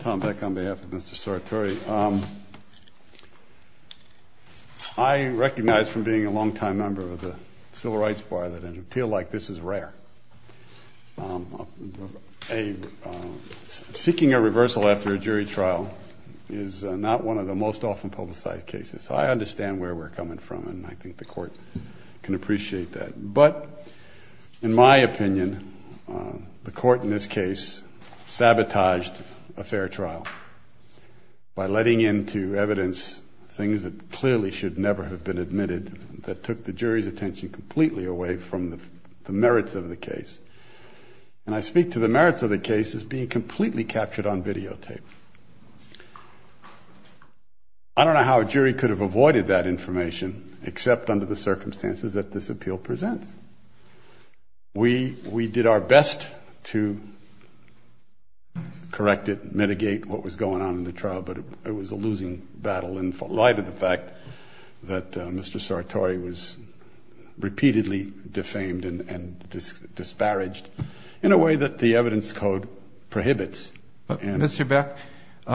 Tom Beck on behalf of Mr. Sartori. I recognize from being a long-time member of the Civil Rights Bar that an appeal like this is rare. Seeking a reversal after a jury trial is not one of the most often publicized cases. I understand where we're coming from and I think the Court can appreciate that. But in my opinion, the Court in this case sabotaged a fair trial by letting into evidence things that clearly should never have been admitted that took the jury's attention completely away from the merits of the case. And I speak to the merits of the case as being completely captured on videotape. I don't know how a jury could have avoided that information except under the circumstances that this appeal presents. We did our best to correct it, mitigate what was going on in the trial, but it was a losing battle in light of the fact that Mr. Sartori was repeatedly defamed and disparaged in a way that the evidence code prohibits. Mr. Beck,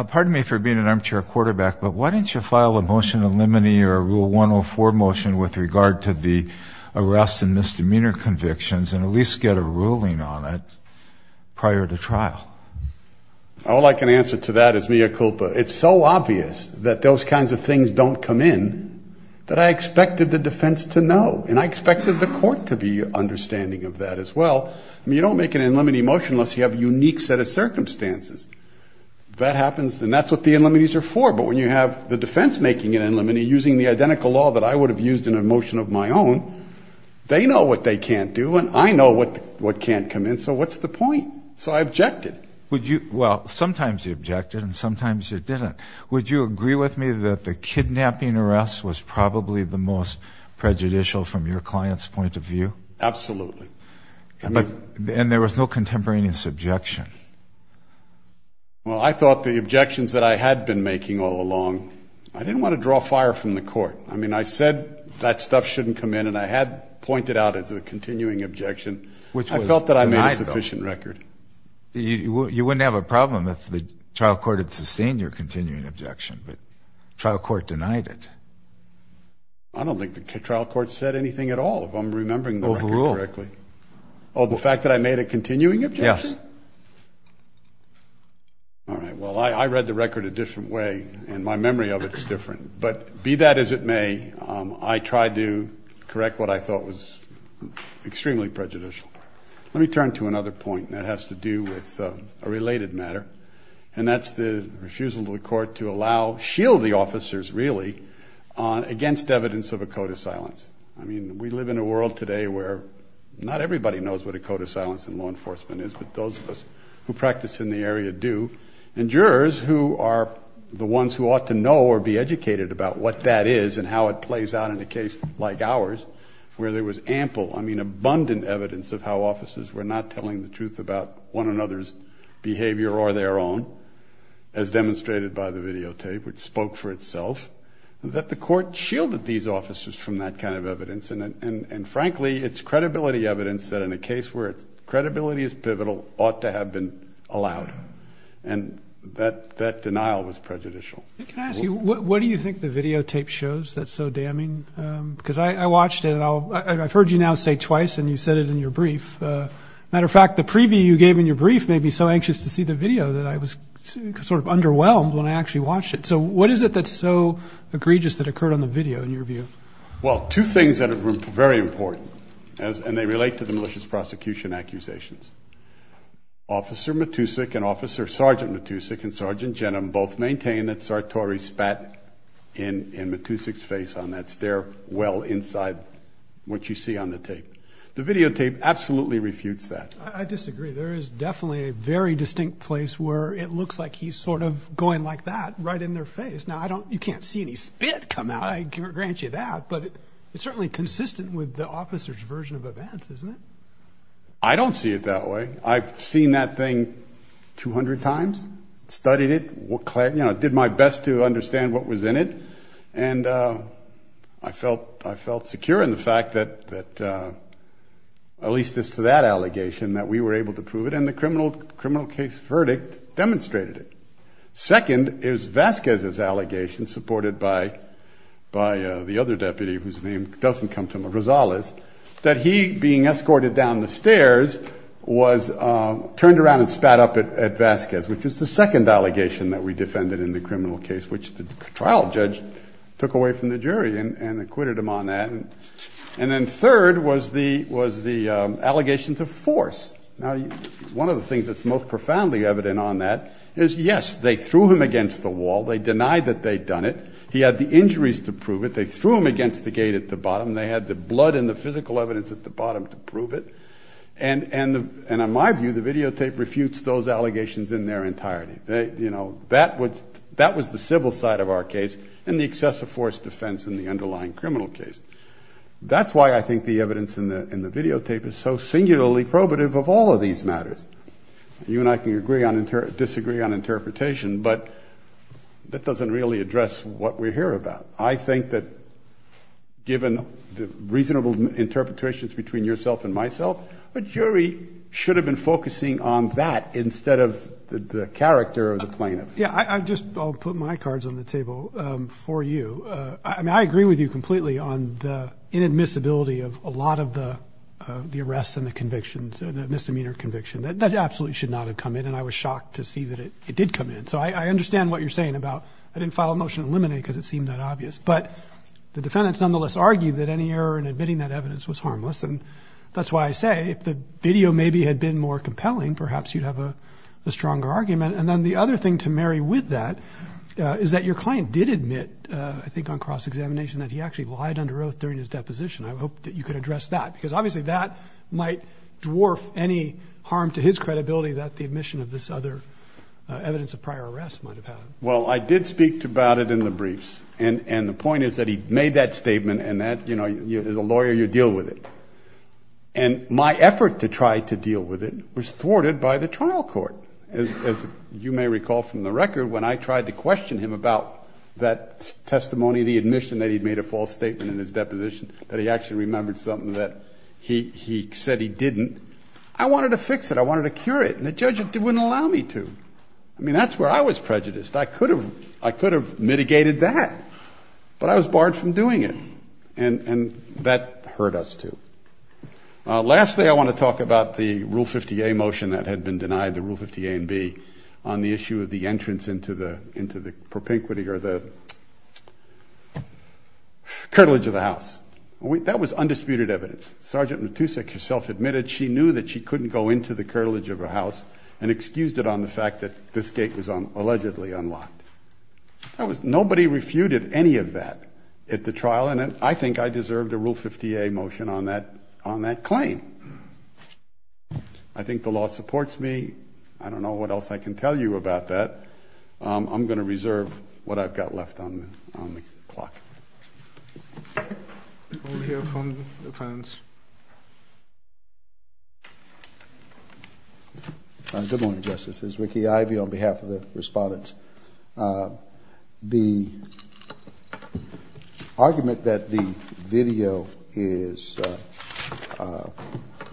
pardon me for being an armchair quarterback, but why didn't you file a motion in limine or a Rule 104 motion with regard to the arrest and misdemeanor convictions and at least get a ruling on it prior to trial? All I can answer to that is mea culpa. It's so obvious that those kinds of things don't come in that I expected the defense to know and I expected the Court to be understanding of that as well. You don't make an in limine motion unless you have a unique set of circumstances. And that's what the in limines are for, but when you have the defense making an in limine using the identical law that I would have used in a motion of my own, they know what they can't do and I know what can't come in, so what's the point? So I objected. Well, sometimes you objected and sometimes you didn't. Would you agree with me that the kidnapping arrest was probably the most prejudicial from your client's point of view? Absolutely. And there was no contemporaneous objection? Well, I thought the objections that I had been making all along, I didn't want to draw fire from the Court. I mean, I said that stuff shouldn't come in and I had pointed out as a continuing objection. I felt that I made a sufficient record. You wouldn't have a problem if the trial court had sustained your continuing objection, but the trial court denied it. I don't think the trial court said anything at all. I'm remembering the record correctly. Oh, the fact that I made a continuing objection? Yes. All right. Well, I read the record a different way and my memory of it is different, but be that as it may, I tried to correct what I thought was extremely prejudicial. Let me turn to another point, and that has to do with a related matter, and that's the refusal of the Court to allow, shield the officers really, against evidence of a code of silence. I mean, we live in a world today where not everybody knows what a code of silence in law enforcement is, but those of us who practice in the area do, and jurors who are the ones who ought to know or be educated about what that is and how it plays out in a case like ours where there was ample, I mean abundant, evidence of how officers were not telling the truth about one another's behavior or their own, as demonstrated by the videotape, which spoke for itself, that the Court shielded these officers from that kind of evidence, and frankly, it's credibility evidence that in a case where credibility is pivotal, ought to have been allowed, and that denial was prejudicial. Can I ask you, what do you think the videotape shows that's so damning? Because I watched it, and I've heard you now say twice, and you said it in your brief. As a matter of fact, the preview you gave in your brief made me so anxious to see the video that I was sort of underwhelmed when I actually watched it. So what is it that's so egregious that occurred on the video in your view? Well, two things that are very important, and they relate to the malicious prosecution accusations. Officer Matusik and Officer Sergeant Matusik and Sergeant Jenum both maintain that Sartori spat in Matusik's face on that. It's there well inside what you see on the tape. The videotape absolutely refutes that. I disagree. There is definitely a very distinct place where it looks like he's sort of going like that right in their face. Now, you can't see any spit come out, I grant you that, but it's certainly consistent with the officer's version of events, isn't it? I don't see it that way. I've seen that thing 200 times, studied it, did my best to understand what was in it, and I felt secure in the fact that, at least as to that allegation, that we were able to prove it, and the criminal case verdict demonstrated it. Second is Vasquez's allegation, supported by the other deputy whose name doesn't come to mind, Rosales, that he, being escorted down the stairs, was turned around and spat up at Vasquez, which is the second allegation that we defended in the criminal case, which the trial judge took away from the jury and acquitted him on that. And then third was the allegation to force. Now, one of the things that's most profoundly evident on that is, yes, they threw him against the wall. They denied that they'd done it. He had the injuries to prove it. They threw him against the gate at the bottom. They had the blood and the physical evidence at the bottom to prove it. And in my view, the videotape refutes those allegations in their entirety. That was the civil side of our case, and the excessive force defense in the underlying criminal case. That's why I think the evidence in the videotape is so singularly probative of all of these matters. You and I can disagree on interpretation, but that doesn't really address what we're here about. I think that given the reasonable interpretations between yourself and myself, a jury should have been focusing on that instead of the character of the plaintiff. Yeah, I'll just put my cards on the table for you. I mean, I agree with you completely on the inadmissibility of a lot of the arrests and the convictions, the misdemeanor conviction. That absolutely should not have come in, and I was shocked to see that it did come in. So I understand what you're saying about I didn't file a motion to eliminate because it seemed that obvious. But the defendants nonetheless argued that any error in admitting that evidence was harmless, and that's why I say if the video maybe had been more compelling, perhaps you'd have a stronger argument. And then the other thing to marry with that is that your client did admit, I think on cross-examination, that he actually lied under oath during his deposition. I hope that you could address that, because obviously that might dwarf any harm to his credibility that the admission of this other evidence of prior arrest might have had. Well, I did speak about it in the briefs, and the point is that he made that statement, and that, you know, as a lawyer, you deal with it. And my effort to try to deal with it was thwarted by the trial court. As you may recall from the record, when I tried to question him about that testimony, the admission that he'd made a false statement in his deposition, that he actually remembered something that he said he didn't, I wanted to fix it. I wanted to cure it, and the judge wouldn't allow me to. I mean, that's where I was prejudiced. I could have mitigated that, but I was barred from doing it, and that hurt us, too. Lastly, I want to talk about the Rule 50A motion that had been denied, the Rule 50A and B, on the issue of the entrance into the propinquity or the curtilage of the house. That was undisputed evidence. Sergeant Matusek herself admitted she knew that she couldn't go into the curtilage of her house and excused it on the fact that this gate was allegedly unlocked. Nobody refuted any of that at the trial, and I think I deserve the Rule 50A motion on that claim. I think the law supports me. I don't know what else I can tell you about that. I'm going to reserve what I've got left on the clock. We'll hear from the defense. Good morning, Justices. Ricky Ivey on behalf of the respondents. The argument that the video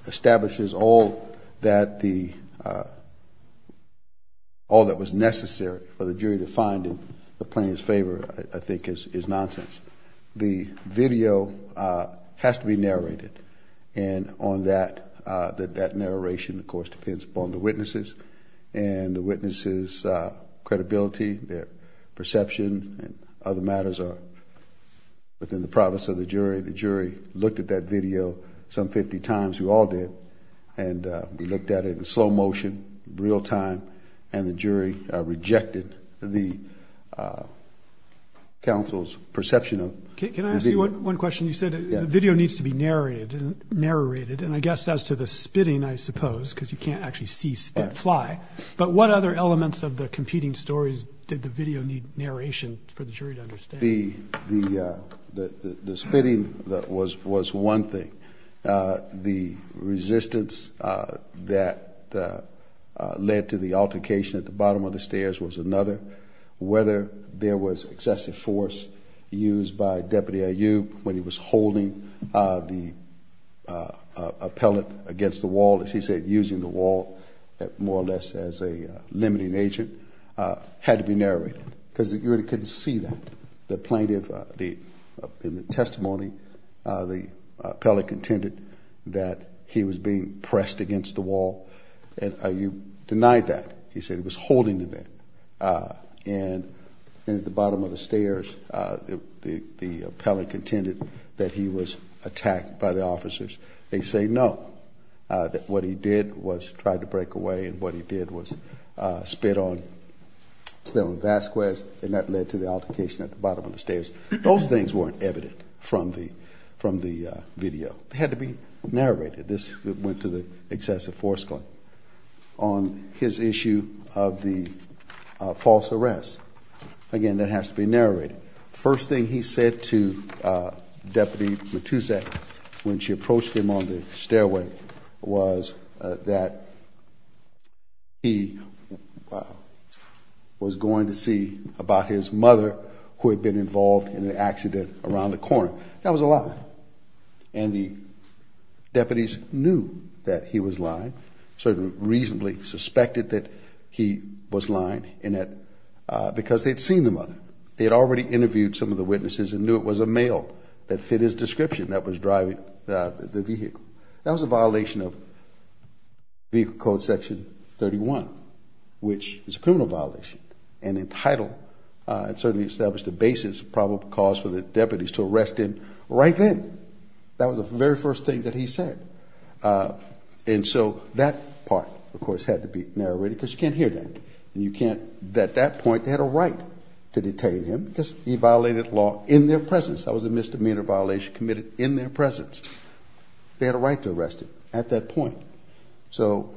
establishes all that was necessary for the jury to find in the plaintiff's favor, I think, is nonsense. The video has to be narrated, and on that, that narration, of course, depends upon the witnesses and the witnesses' credibility, their perception, and other matters within the province of the jury. The jury looked at that video some 50 times. We all did. We looked at it in slow motion, real time, and the jury rejected the counsel's perception of the video. Can I ask you one question? You said the video needs to be narrated, and I guess as to the spitting, I suppose, because you can't actually see spit fly, but what other elements of the competing stories did the video need narration for the jury to understand? The spitting was one thing. The resistance that led to the altercation at the bottom of the stairs was another. Whether there was excessive force used by Deputy Ayoub when he was holding a pellet against the wall, as you said, using the wall more or less as a limiting agent, had to be narrated because the jury couldn't see that. The plaintiff, in the testimony, the pellet contended that he was being pressed against the wall, and Ayoub denied that. He said he was holding it there, and at the bottom of the stairs, the pellet contended that he was attacked by the officers. They say no, that what he did was try to break away, and what he did was spit on Vasquez, and that led to the altercation at the bottom of the stairs. Those things weren't evident from the video. They had to be narrated. This went to the excessive force claim. On his issue of the false arrest, again, that has to be narrated. The first thing he said to Deputy Matusak when she approached him on the stairway was that he was going to see about his mother who had been involved in the accident around the corner. That was a lie, and the deputies knew that he was lying, sort of reasonably suspected that he was lying because they had seen the mother. They had already interviewed some of the witnesses and knew it was a male that fit his description that was driving the vehicle. That was a violation of Vehicle Code Section 31, which is a criminal violation, and entitled and certainly established the basis of probable cause for the deputies to arrest him right then. That was the very first thing that he said. And so that part, of course, had to be narrated because you can't hear that. At that point, they had a right to detain him because he violated law in their presence. That was a misdemeanor violation committed in their presence. They had a right to arrest him at that point. So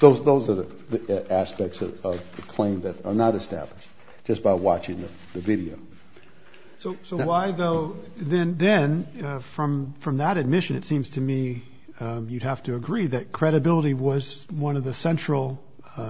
those are the aspects of the claim that are not established just by watching the video. So why, though, then, from that admission, it seems to me you'd have to agree that credibility was one of the central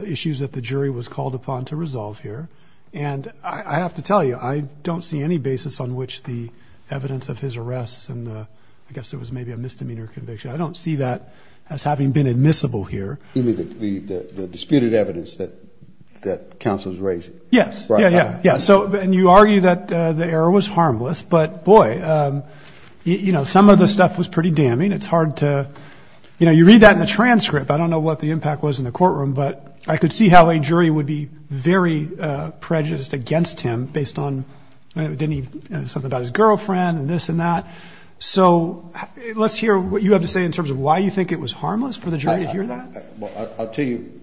issues that the jury was called upon to resolve here. And I have to tell you, I don't see any basis on which the evidence of his arrest and I guess it was maybe a misdemeanor conviction, I don't see that as having been admissible here. You mean the disputed evidence that counsel is raising? Yes. And you argue that the error was harmless. But, boy, you know, some of the stuff was pretty damning. It's hard to, you know, you read that in the transcript. I don't know what the impact was in the courtroom, but I could see how a jury would be very prejudiced against him based on something about his girlfriend and this and that. So let's hear what you have to say in terms of why you think it was harmless for the jury to hear that. I'll tell you.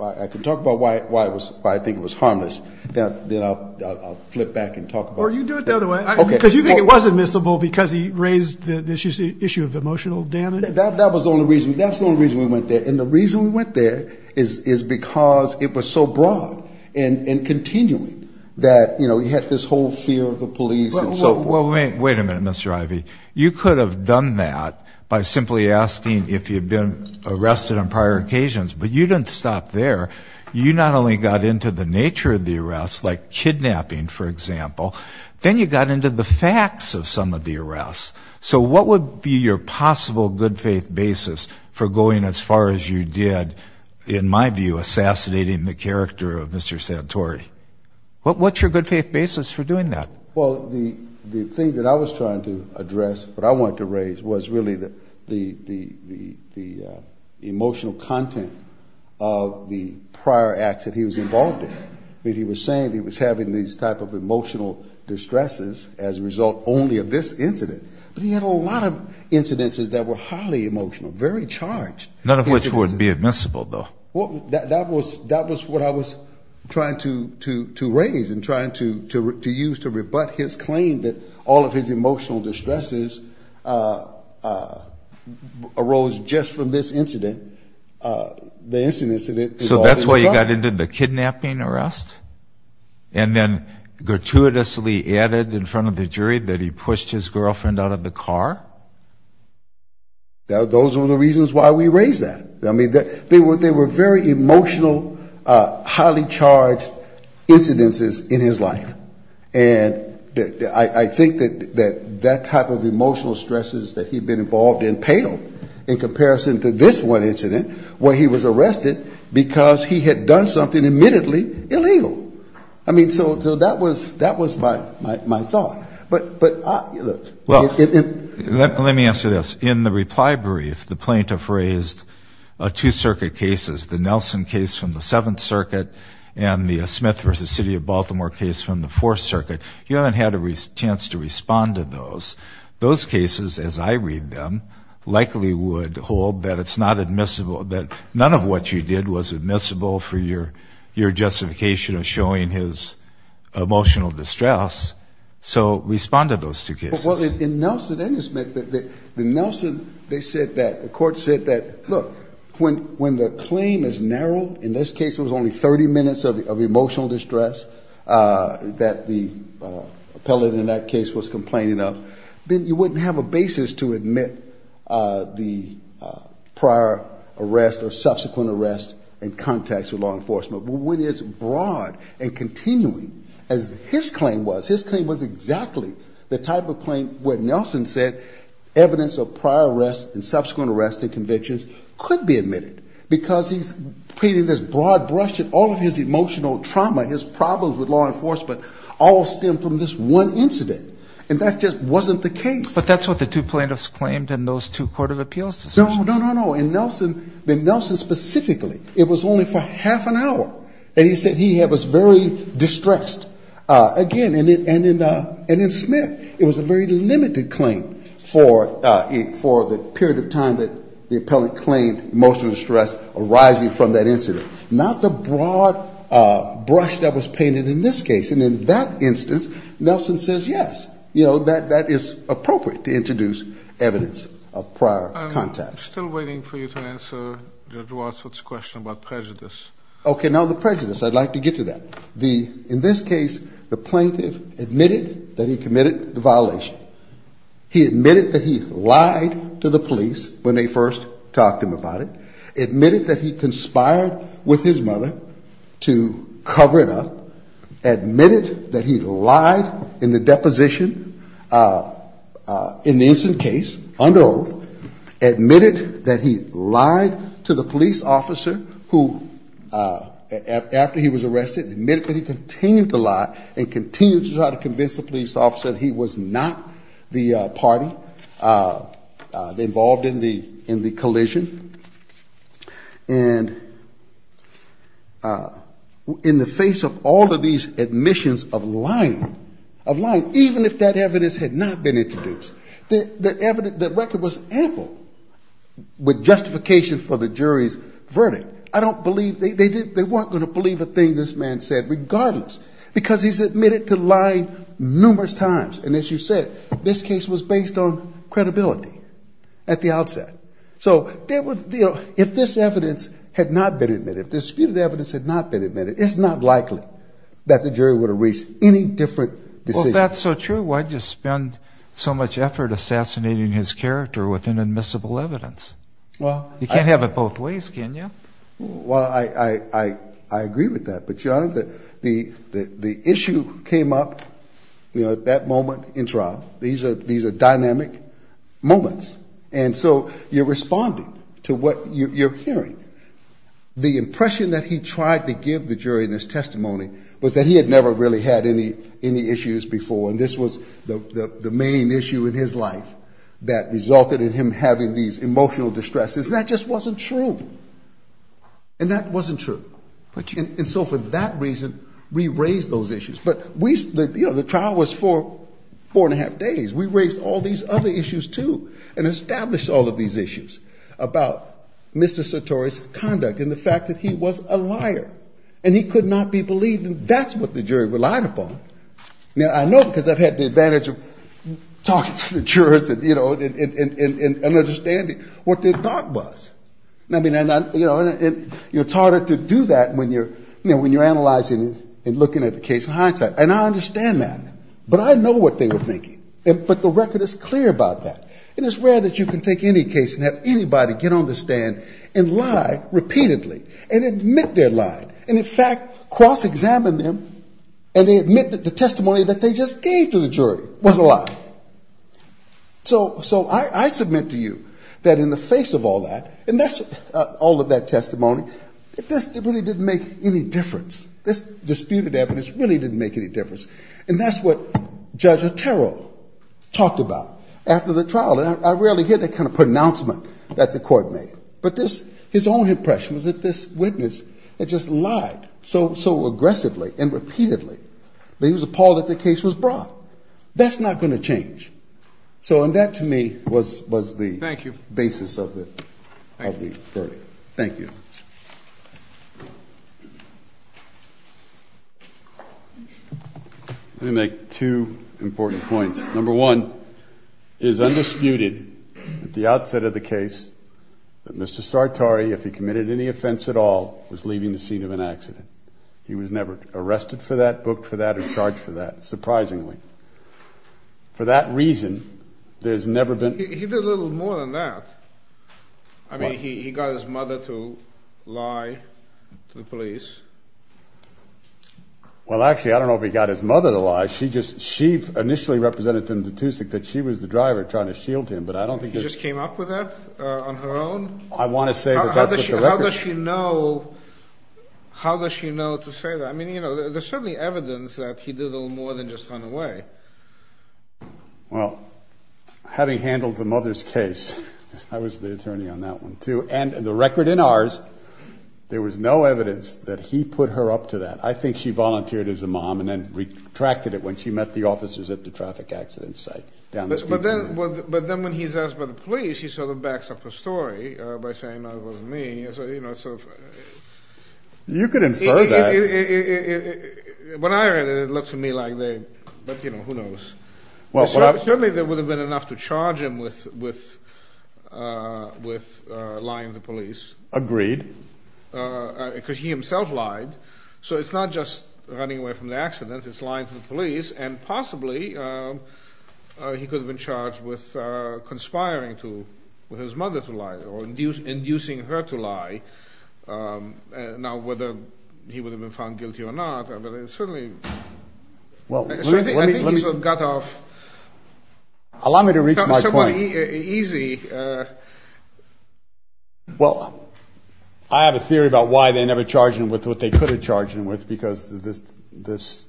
I can talk about why I think it was harmless. Then I'll flip back and talk about it. Or you do it the other way. Okay. Because you think it was admissible because he raised the issue of emotional damage? That was the only reason. That's the only reason we went there. And the reason we went there is because it was so broad and continuing that, you know, he had this whole fear of the police and so forth. Wait a minute, Mr. Ivey. You could have done that by simply asking if he had been arrested on prior occasions, but you didn't stop there. You not only got into the nature of the arrest, like kidnapping, for example, then you got into the facts of some of the arrests. So what would be your possible good faith basis for going as far as you did, in my view, assassinating the character of Mr. Santori? What's your good faith basis for doing that? Well, the thing that I was trying to address, what I wanted to raise, was really the emotional content of the prior acts that he was involved in. He was saying he was having these type of emotional distresses as a result only of this incident. But he had a lot of incidences that were highly emotional, very charged. None of which would be admissible, though. That was what I was trying to raise and trying to use to rebut his claim that all of his emotional distresses arose just from this incident. So that's why you got into the kidnapping arrest? And then gratuitously added in front of the jury that he pushed his girlfriend out of the car? Those were the reasons why we raised that. I mean, they were very emotional, highly charged incidences in his life. And I think that that type of emotional stresses that he'd been involved in paled in comparison to this one incident where he was arrested because he had done something admittedly illegal. I mean, so that was my thought. Well, let me answer this. In the reply brief, the plaintiff raised two circuit cases, the Nelson case from the Seventh Circuit and the Smith v. City of Baltimore case from the Fourth Circuit. He hadn't had a chance to respond to those. Those cases, as I read them, likely would hold that it's not admissible, that none of what you did was admissible for your justification of showing his emotional distress. So respond to those two cases. Well, in Nelson and in Smith, the Nelson, they said that, the court said that, look, when the claim is narrowed, in this case it was only 30 minutes of emotional distress that the appellate in that case was complaining of, then you wouldn't have a basis to admit the prior arrest or subsequent arrest in context with law enforcement. But when it's broad and continuing, as his claim was, his claim was exactly the type of claim where Nelson said evidence of prior arrest and subsequent arrest and convictions could be admitted, because he's painting this broad brush and all of his emotional trauma, his problems with law enforcement, all stem from this one incident. And that just wasn't the case. But that's what the two plaintiffs claimed in those two court of appeals decisions. No, no, no, no. In Nelson, the Nelson specifically, it was only for half an hour. And he said he was very distressed. Again, and in Smith, it was a very limited claim for the period of time that the appellate claimed emotional distress arising from that incident, not the broad brush that was painted in this case. And in that instance, Nelson says, yes, you know, that is appropriate to introduce evidence of prior contact. I'm still waiting for you to answer Judge Wadsworth's question about prejudice. Okay, now the prejudice, I'd like to get to that. In this case, the plaintiff admitted that he committed the violation. He admitted that he lied to the police when they first talked to him about it, admitted that he conspired with his mother to cover it up, admitted that he lied in the deposition in the instant case under oath, admitted that he lied to the police officer who, after he was arrested, admitted that he continued to lie and continued to try to convince the police officer that he was not the party involved in the collision. And in the face of all of these admissions of lying, of lying, even if that evidence had not been introduced, the evidence, the record was ample with justification for the jury's verdict. I don't believe, they weren't going to believe a thing this man said, regardless, because he's admitted to lying numerous times. And as you said, this case was based on credibility at the outset. So if this evidence had not been admitted, if disputed evidence had not been admitted, it's not likely that the jury would have reached any different decision. Well, if that's so true, why just spend so much effort assassinating his character with inadmissible evidence? You can't have it both ways, can you? Well, I agree with that. But, Your Honor, the issue came up at that moment in trial. These are dynamic moments. And so you're responding to what you're hearing. The impression that he tried to give the jury in this testimony was that he had never really had any issues before. And this was the main issue in his life that resulted in him having these emotional distresses. And that just wasn't true. And that wasn't true. And so for that reason, we raised those issues. But we, you know, the trial was for four and a half days. We raised all these other issues, too, and established all of these issues about Mr. Satori's conduct and the fact that he was a liar. And he could not be believed. And that's what the jury relied upon. Now, I know because I've had the advantage of talking to the jurors and, you know, and understanding what their thought was. And, you know, you're taught to do that when you're analyzing and looking at the case in hindsight. And I understand that. But I know what they were thinking. But the record is clear about that. And it's rare that you can take any case and have anybody get on the stand and lie repeatedly and admit they're lying. And, in fact, cross-examine them and they admit that the testimony that they just gave to the jury was a lie. So I submit to you that in the face of all that, and that's all of that testimony, this really didn't make any difference. This disputed evidence really didn't make any difference. And that's what Judge Otero talked about after the trial. And I rarely hear that kind of pronouncement that the court made. But his own impression was that this witness had just lied so aggressively and repeatedly that he was appalled that the case was brought. That's not going to change. So that, to me, was the basis of the verdict. Thank you. Thank you. Let me make two important points. Number one, it is undisputed at the outset of the case that Mr. Sartori, if he committed any offense at all, was leaving the scene of an accident. He was never arrested for that, booked for that, or charged for that, surprisingly. For that reason, there's never been ---- He did a little more than that. I mean, he got his mother to lie to the police. Well, actually, I don't know if he got his mother to lie. She just ---- she initially represented him to Tusik that she was the driver trying to shield him, but I don't think there's ---- He just came up with that on her own? I want to say that that's what the record ---- How does she know to say that? I mean, you know, there's certainly evidence that he did a little more than just run away. Well, having handled the mother's case, I was the attorney on that one, too. And the record in ours, there was no evidence that he put her up to that. I think she volunteered as a mom and then retracted it when she met the officers at the traffic accident site. But then when he's asked by the police, he sort of backs up the story by saying, no, it wasn't me. You could infer that. When I read it, it looked to me like they ---- but, you know, who knows? Certainly there would have been enough to charge him with lying to the police. Agreed. Because he himself lied. So it's not just running away from the accident. It's lying to the police. And possibly he could have been charged with conspiring with his mother to lie or inducing her to lie. Now, whether he would have been found guilty or not, certainly ---- Well, let me ---- Allow me to reach my point. Easy. Well, I have a theory about why they never charged him with what they could have charged him with, because this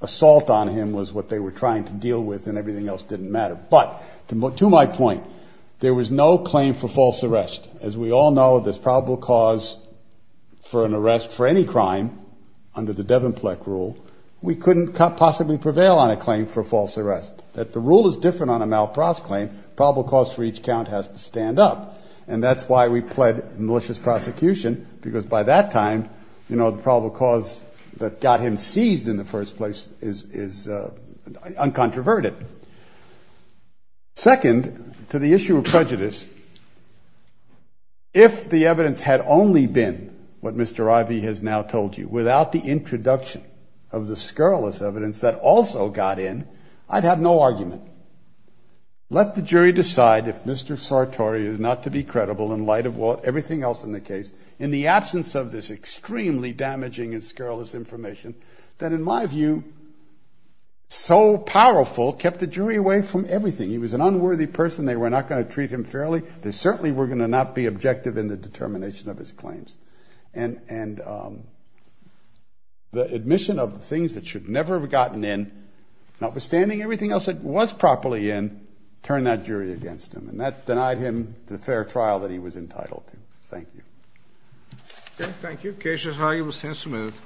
assault on him was what they were trying to deal with and everything else didn't matter. But to my point, there was no claim for false arrest. As we all know, there's probable cause for an arrest for any crime under the Devonpleck rule. We couldn't possibly prevail on a claim for false arrest. If the rule is different on a malprause claim, probable cause for each count has to stand up. And that's why we pled malicious prosecution, because by that time, you know, the probable cause that got him seized in the first place is uncontroverted. Second, to the issue of prejudice, if the evidence had only been what Mr. Ivey has now told you, without the introduction of the scurrilous evidence that also got in, I'd have no argument. Let the jury decide if Mr. Sartori is not to be credible in light of everything else in the case, in the absence of this extremely damaging and scurrilous information that, in my view, so powerful, kept the jury away from everything. He was an unworthy person. They were not going to treat him fairly. They certainly were going to not be objective in the determination of his claims. And the admission of the things that should never have gotten in, notwithstanding everything else that was properly in, turned that jury against him, and that denied him the fair trial that he was entitled to. Thank you. Okay, thank you. Case is highly sensitive.